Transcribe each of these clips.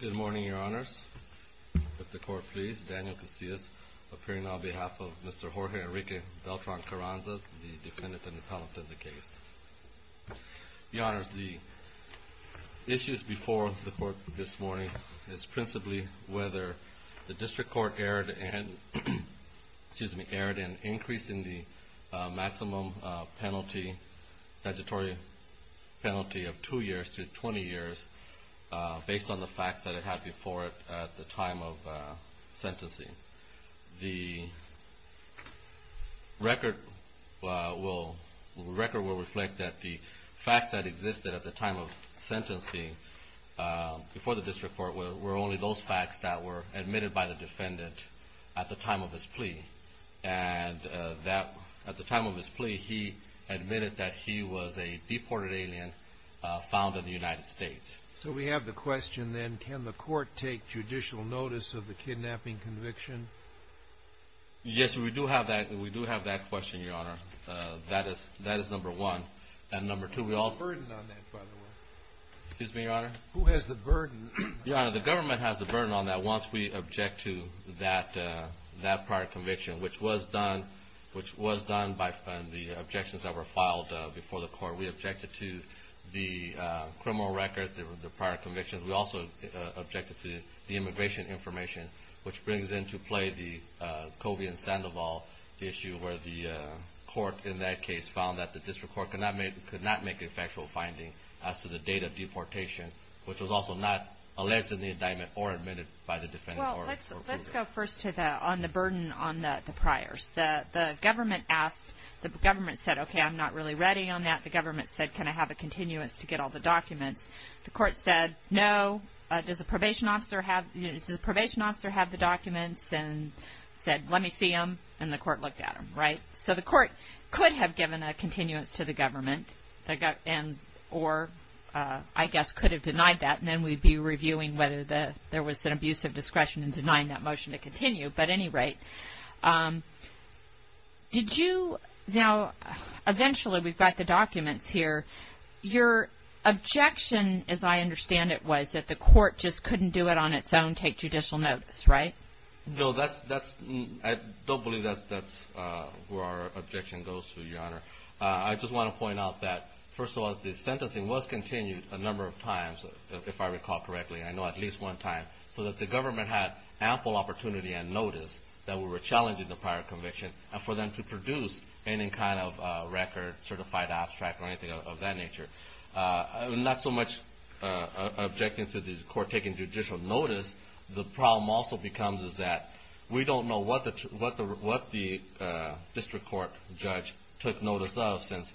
Good morning, your honors. If the court please, Daniel Casillas, appearing on behalf of Mr. Jorge Enrique Beltran-Carranza, the defendant and appellant of the case. Your honors, the issues before the court this morning is principally whether the district court erred in increasing the maximum penalty, statutory penalty, of two years to 20 years based on the facts that it had before it at the time of sentencing. The record will reflect that the facts that existed at the time of sentencing before the district court were only those facts that were admitted by the defendant at the time of his plea. And at the time of his plea, he admitted that he was a deported alien found in the United States. So we have the question then, can the court take judicial notice of the kidnapping conviction? Yes, we do have that question, your honor. That is number one. Who has the burden on that, by the way? Excuse me, your honor? Who has the burden? Your honor, the government has the burden on that once we object to that prior conviction, which was done by the objections that were filed before the court. We objected to the criminal record, the prior convictions. We also objected to the immigration information, which brings into play the Covey and Sandoval issue where the court in that case found that the district court could not make a factual finding as to the date of deportation, which was also not alleged in the indictment or admitted by the defendant. Well, let's go first to the burden on the priors. The government asked, the government said, okay, I'm not really ready on that. The government said, can I have a continuance to get all the documents? The court said, no. Does the probation officer have the documents? And said, let me see them. And the court looked at them, right? So the court could have given a continuance to the government, or I guess could have denied that, and then we'd be reviewing whether there was an abuse of discretion in denying that motion to continue. But at any rate, did you, now eventually we've got the documents here. Your objection, as I understand it, was that the court just couldn't do it on its own, take judicial notice, right? No, that's, I don't believe that's where our objection goes to, Your Honor. I just want to point out that, first of all, the sentencing was continued a number of times, if I recall correctly. I know at least one time. So that the government had ample opportunity and notice that we were challenging the prior conviction for them to produce any kind of record, certified abstract, or anything of that nature. Not so much objecting to the court taking judicial notice, the problem also becomes is that we don't know what the district court judge took notice of since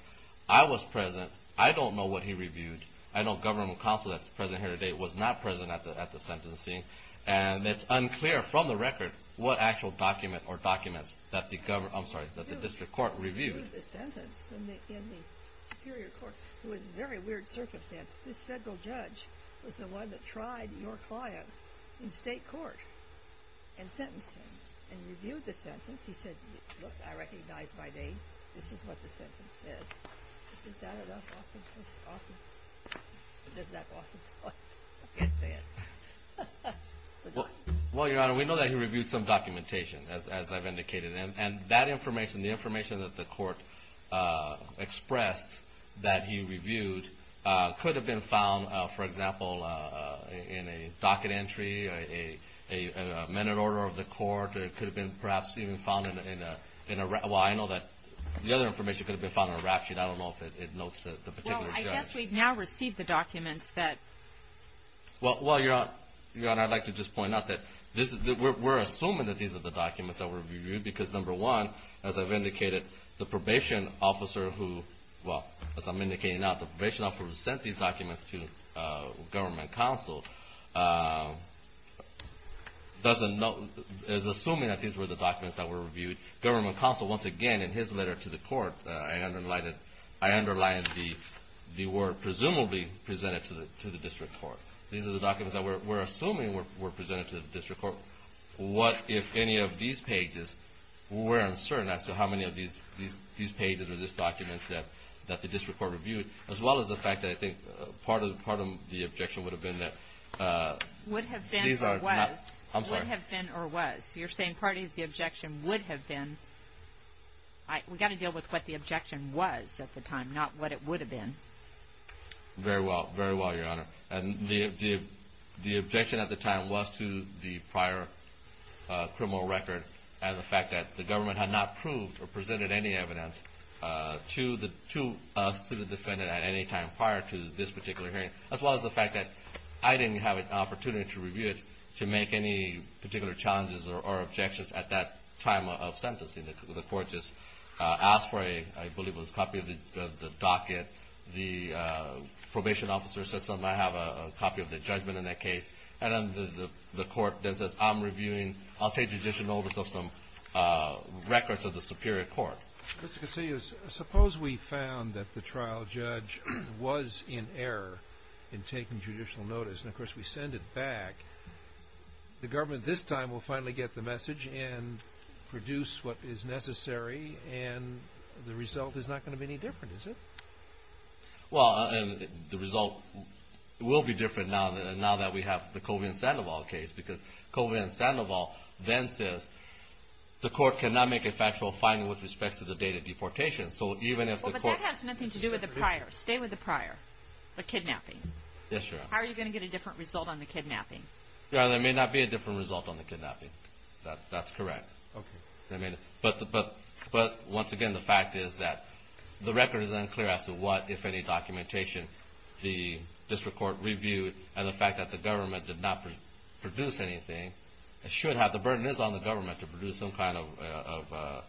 I was present. I don't know what he reviewed. I know government counsel that's present here today was not present at the sentencing. And it's unclear from the record what actual document or documents that the district court reviewed. He reviewed the sentence in the Superior Court. It was a very weird circumstance. This federal judge was the one that tried your client in state court and sentenced him and reviewed the sentence. He said, look, I recognize my name. This is what the sentence says. Is that enough offense? Is that enough offense? I can't say it. Well, Your Honor, we know that he reviewed some documentation, as I've indicated. And that information, the information that the court expressed that he reviewed, could have been found, for example, in a docket entry, a minute order of the court. It could have been perhaps even found in a – well, I know that the other information could have been found in a rap sheet. I don't know if it notes the particular judge. Well, I guess we've now received the documents that – Well, Your Honor, I'd like to just point out that we're assuming that these are the documents that were reviewed because, number one, as I've indicated, the probation officer who – well, as I'm indicating now, the probation officer who sent these documents to government counsel doesn't know – is assuming that these were the documents that were reviewed. Government counsel, once again, in his letter to the court, I underlined the word presumably presented to the district court. These are the documents that we're assuming were presented to the district court. What if any of these pages – we're uncertain as to how many of these pages or these documents that the district court reviewed, as well as the fact that I think part of the objection would have been that these are not – Would have been or was. I'm sorry. Would have been or was. You're saying part of the objection would have been – we've got to deal with what the objection was at the time, not what it would have been. Very well. Very well, Your Honor. And the objection at the time was to the prior criminal record and the fact that the government had not proved or presented any evidence to us, to the defendant at any time prior to this particular hearing, as well as the fact that I didn't have an opportunity to review it to make any particular challenges or objections at that time of sentencing. The court just asked for a – I believe it was a copy of the docket. The probation officer says, I have a copy of the judgment in that case. And then the court then says, I'm reviewing – I'll take judicial notice of some records of the superior court. Mr. Casillas, suppose we found that the trial judge was in error in taking judicial notice, and, of course, we send it back. The government this time will finally get the message and produce what is necessary, and the result is not going to be any different, is it? Well, the result will be different now that we have the Colvin-Sandoval case because Colvin-Sandoval then says the court cannot make a factual finding with respect to the date of deportation. So even if the court – Well, but that has nothing to do with the prior. Stay with the prior, the kidnapping. Yes, Your Honor. How are you going to get a different result on the kidnapping? Your Honor, there may not be a different result on the kidnapping. That's correct. Okay. But, once again, the fact is that the record is unclear as to what, if any, documentation the district court reviewed and the fact that the government did not produce anything should have – the burden is on the government to produce some kind of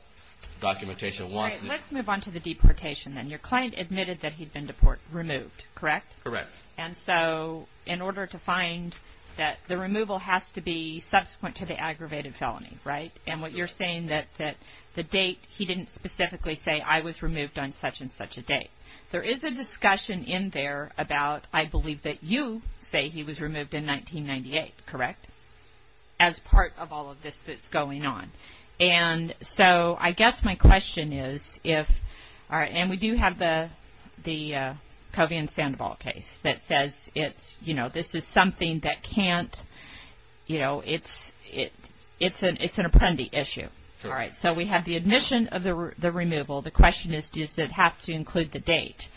documentation once – All right. Let's move on to the deportation then. Your client admitted that he'd been removed, correct? Correct. And so in order to find that, the removal has to be subsequent to the aggravated felony, right? And what you're saying that the date – he didn't specifically say, I was removed on such and such a date. There is a discussion in there about, I believe that you say he was removed in 1998, correct? As part of all of this that's going on. And so I guess my question is if – and we do have the Colvin-Sandoval case that says it's, you know, this is something that can't – you know, it's an apprendi issue. All right. So we have the admission of the removal. The question is, does it have to include the date?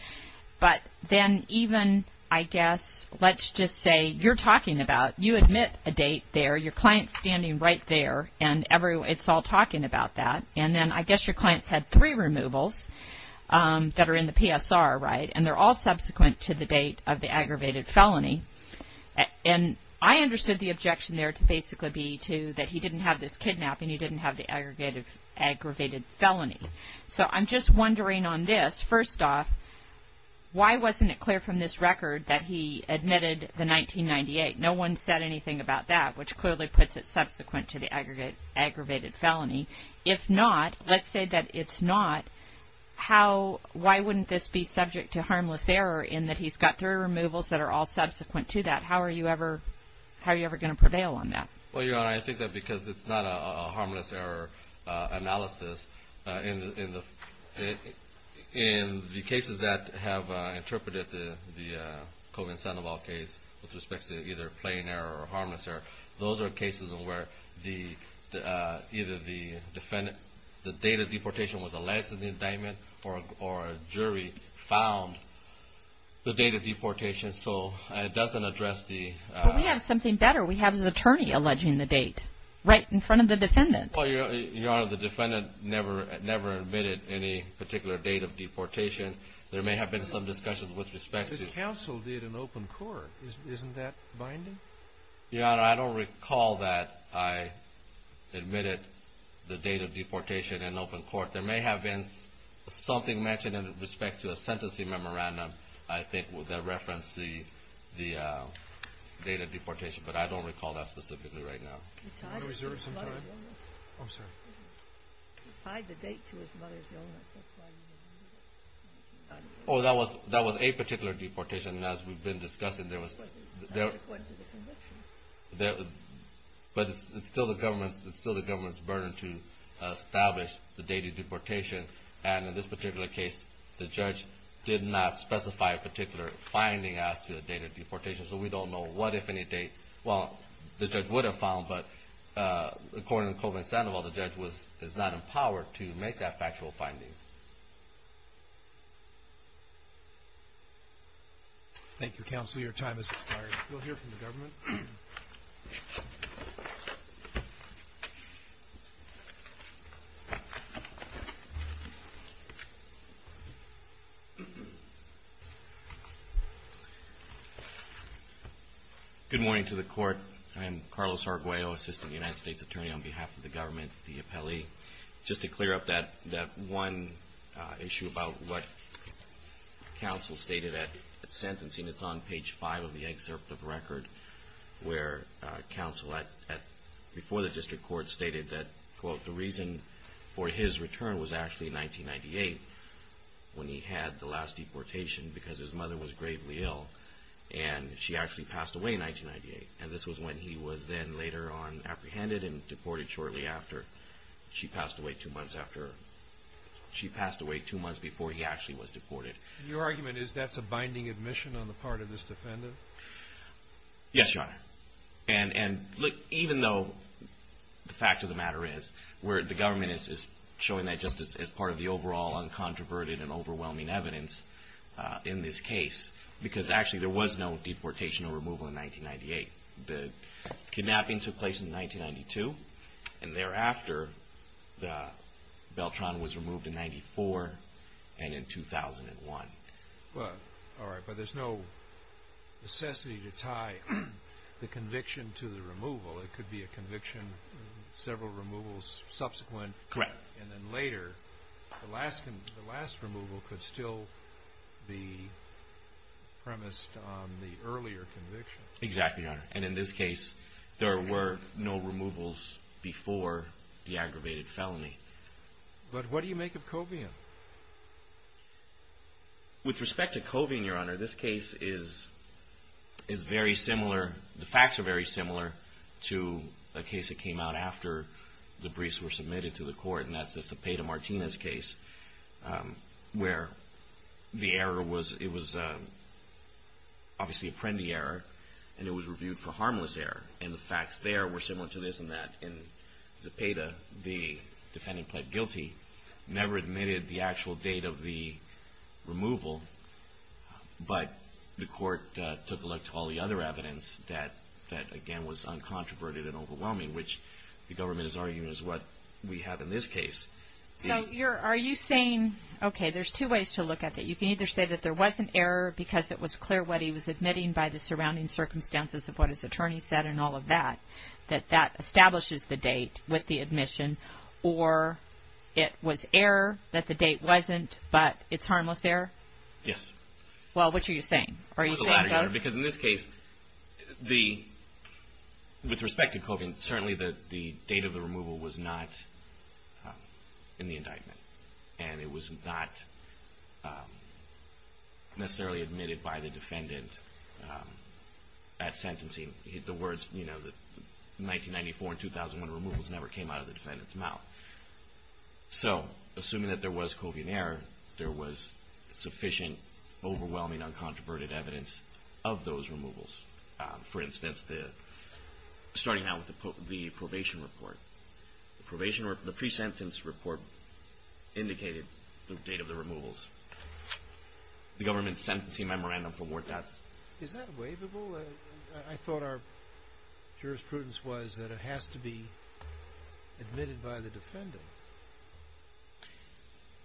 But then even, I guess, let's just say you're talking about – you admit a date there. Your client's standing right there and it's all talking about that. And then I guess your client's had three removals that are in the PSR, right? And they're all subsequent to the date of the aggravated felony. And I understood the objection there to basically be to – that he didn't have this kidnapping. He didn't have the aggravated felony. So I'm just wondering on this, first off, why wasn't it clear from this record that he admitted the 1998? No one said anything about that, which clearly puts it subsequent to the aggravated felony. If not, let's say that it's not, how – why wouldn't this be subject to harmless error in that he's got three removals that are all subsequent to that? How are you ever going to prevail on that? Well, Your Honor, I think that because it's not a harmless error analysis. In the cases that have interpreted the Colvin-Sandoval case with respect to either plain error or harmless error, those are cases where the – either the defendant – the date of deportation was alleged in the indictment or a jury found the date of deportation. So it doesn't address the – But we have something better. We have his attorney alleging the date right in front of the defendant. Well, Your Honor, the defendant never admitted any particular date of deportation. There may have been some discussions with respect to – This counsel did an open court. Isn't that binding? Your Honor, I don't recall that I admitted the date of deportation in open court. There may have been something mentioned in respect to a sentencing memorandum, I think, that referenced the date of deportation. But I don't recall that specifically right now. He tied the date to his mother's illness. I'm sorry. He tied the date to his mother's illness. That's why he didn't admit it. Oh, that was a particular deportation. As we've been discussing, there was – According to the conviction. But it's still the government's burden to establish the date of deportation. And in this particular case, the judge did not specify a particular finding as to the date of deportation, so we don't know what, if any, date. Well, the judge would have found, but according to Colvin Sandoval, the judge is not empowered to make that factual finding. Thank you, Counsel. Your time has expired. We'll hear from the government. Good morning to the Court. I am Carlos Arguello, Assistant United States Attorney on behalf of the government, the appellee. Just to clear up that one issue about what Counsel stated at sentencing, it's on page 5 of the excerpt of record where Counsel, before the district court, stated that, quote, the reason for his return was actually in 1998 when he had the last deportation because his mother was gravely ill, and she actually passed away in 1998. And this was when he was then later on apprehended and deported shortly after. She passed away two months before he actually was deported. Your argument is that's a binding admission on the part of this defendant? Yes, Your Honor. And even though the fact of the matter is, the government is showing that just as part of the overall uncontroverted and overwhelming evidence in this case, because actually there was no deportation or removal in 1998. The kidnapping took place in 1992, and thereafter Beltran was removed in 1994 and in 2001. All right, but there's no necessity to tie the conviction to the removal. It could be a conviction, several removals subsequent. Correct. And then later, the last removal could still be premised on the earlier conviction. Exactly, Your Honor. And in this case, there were no removals before the aggravated felony. But what do you make of Covian? With respect to Covian, Your Honor, this case is very similar. The facts are very similar to a case that came out after the briefs were submitted to the court, and that's the Cepeda-Martinez case, where the error was, it was obviously a Prendi error, and it was reviewed for harmless error. And the facts there were similar to this and that. In Cepeda, the defendant pled guilty, never admitted the actual date of the removal, but the court took a look to all the other evidence that, again, was uncontroverted and overwhelming, which the government is arguing is what we have in this case. So are you saying, okay, there's two ways to look at it. You can either say that there was an error because it was clear what he was admitting by the surrounding circumstances of what his attorney said and all of that, that that establishes the date with the admission, or it was error that the date wasn't, but it's harmless error? Yes. Well, which are you saying? Are you saying both? It's harmless error because in this case, with respect to Covian, certainly the date of the removal was not in the indictment, and it was not necessarily admitted by the defendant at sentencing. The words, you know, 1994 and 2001 removals never came out of the defendant's mouth. So assuming that there was Covian error, there was sufficient, overwhelming, uncontroverted evidence of those removals. For instance, starting now with the probation report, the pre-sentence report indicated the date of the removals. The government's sentencing memorandum for more deaths. Is that waivable? I thought our jurisprudence was that it has to be admitted by the defendant.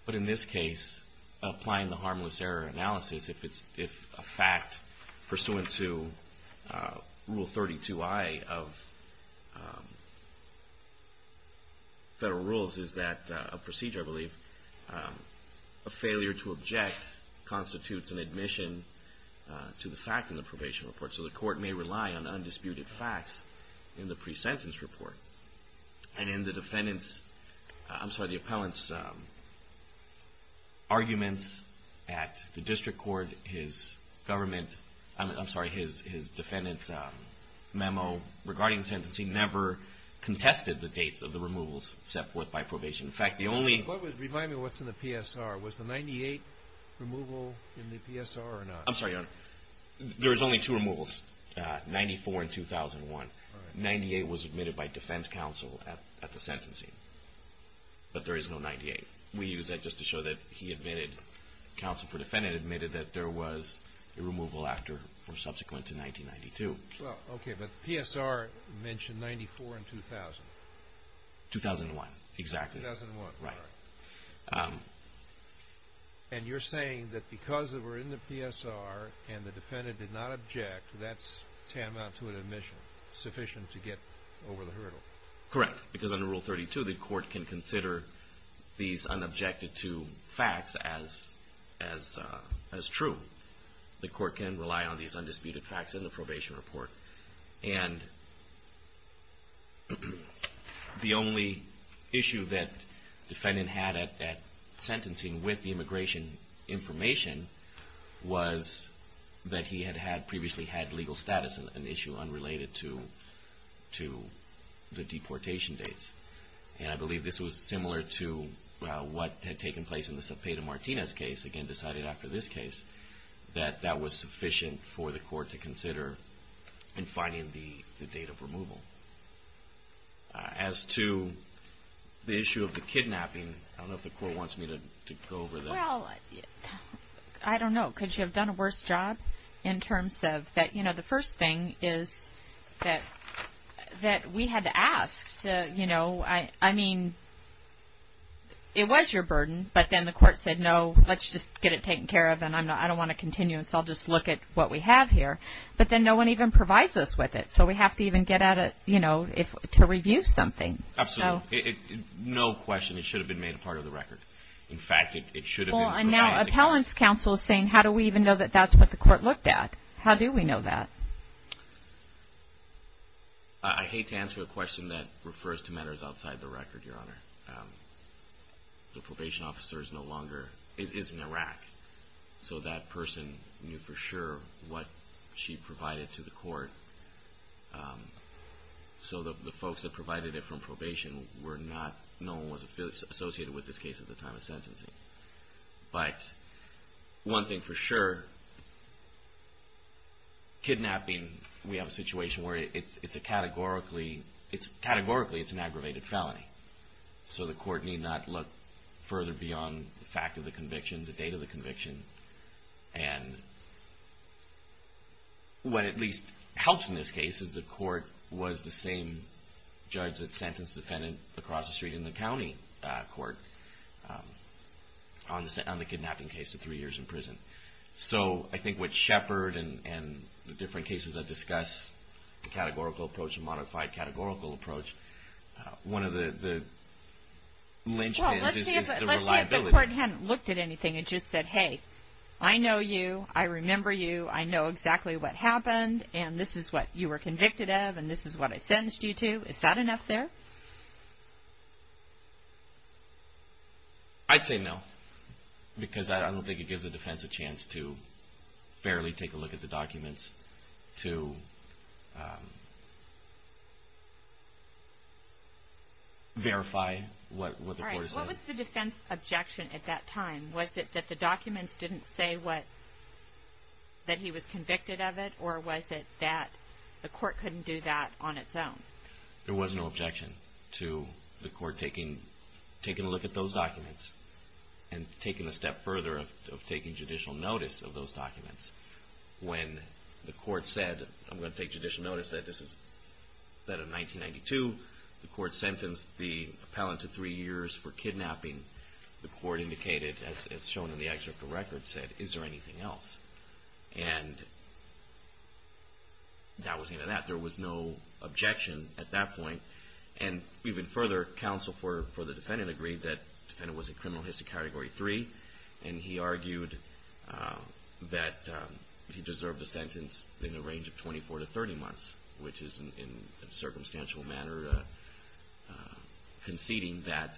But in this case, applying the harmless error analysis, if a fact pursuant to Rule 32I of federal rules is that a procedure, I believe, a failure to object constitutes an admission to the fact in the probation report. So the court may rely on undisputed facts in the pre-sentence report. And in the defendant's, I'm sorry, the appellant's arguments at the district court, his government, I'm sorry, his defendant's memo regarding sentencing never contested the dates of the removals except by probation. In fact, the only – Remind me what's in the PSR. Was the 98 removal in the PSR or not? I'm sorry, Your Honor. There was only two removals, 94 and 2001. 98 was admitted by defense counsel at the sentencing, but there is no 98. We use that just to show that he admitted, counsel for the defendant admitted that there was a removal after or subsequent to 1992. Okay, but the PSR mentioned 94 in 2000. 2001, exactly. 2001, right. And you're saying that because we're in the PSR and the defendant did not object, that's tantamount to an admission sufficient to get over the hurdle? Correct, because under Rule 32, the court can consider these unobjected to facts as true. The court can rely on these undisputed facts in the probation report. And the only issue that the defendant had at sentencing with the immigration information was that he had previously had legal status, an issue unrelated to the deportation dates. And I believe this was similar to what had taken place in the Cepeda-Martinez case, again decided after this case, that that was sufficient for the court to consider in finding the date of removal. As to the issue of the kidnapping, I don't know if the court wants me to go over that. Well, I don't know. Could you have done a worse job in terms of that? You know, the first thing is that we had to ask to, you know, I mean, it was your burden, but then the court said, no, let's just get it taken care of and I don't want to continue and so I'll just look at what we have here. But then no one even provides us with it, so we have to even get at it, you know, to review something. Absolutely. No question, it should have been made a part of the record. In fact, it should have been. Well, and now Appellant's counsel is saying, how do we even know that that's what the court looked at? How do we know that? I hate to answer a question that refers to matters outside the record, Your Honor. The probation officer is no longer, is in Iraq, so that person knew for sure what she provided to the court. So the folks that provided it from probation were not, no one was associated with this case at the time of sentencing. But one thing for sure, kidnapping, we have a situation where it's a categorically, categorically it's an aggravated felony, so the court need not look further beyond the fact of the conviction, the date of the conviction, and what at least helps in this case is the court was the same judge that sentenced the defendant across the street in the county court on the kidnapping case to three years in prison. So I think what Shepard and the different cases I've discussed, the categorical approach, the modified categorical approach, one of the lynchpins is the reliability. Well, let's see if the court hadn't looked at anything and just said, hey, I know you, I remember you, I know exactly what happened, and this is what you were convicted of, and this is what I sentenced you to. Is that enough there? I'd say no, because I don't think it gives the defense a chance to fairly take a look at the documents to verify what the court says. All right. What was the defense objection at that time? Was it that the documents didn't say that he was convicted of it, or was it that the court couldn't do that on its own? There was no objection to the court taking a look at those documents and taking a step further of taking judicial notice of those documents. When the court said, I'm going to take judicial notice that in 1992 the court sentenced the appellant to three years for kidnapping, the court indicated, as shown in the excerpt of the record, said, is there anything else? And that was the end of that. There was no objection at that point. And even further, counsel for the defendant agreed that the defendant was in criminal history category three, and he argued that he deserved a sentence in the range of 24 to 30 months, which is in a circumstantial manner conceding that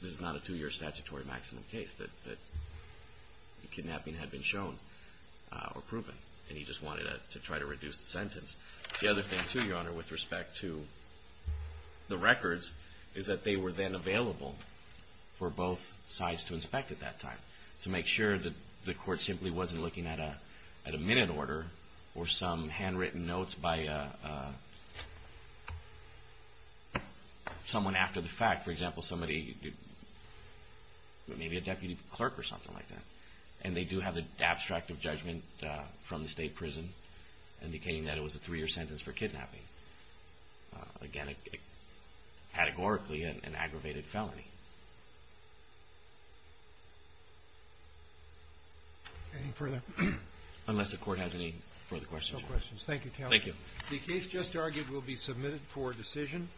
this is not a two-year statutory maximum case, that the kidnapping had been shown or proven, and he just wanted to try to reduce the sentence. The other thing, too, Your Honor, with respect to the records, is that they were then available for both sides to inspect at that time to make sure that the court simply wasn't looking at a minute order or some handwritten notes by someone after the fact. For example, somebody, maybe a deputy clerk or something like that, and they do have an abstract of judgment from the state prison indicating that it was a three-year sentence for kidnapping. Again, categorically, an aggravated felony. Any further? Unless the court has any further questions. No questions. Thank you, counsel. Thank you. The case just argued will be submitted for decision.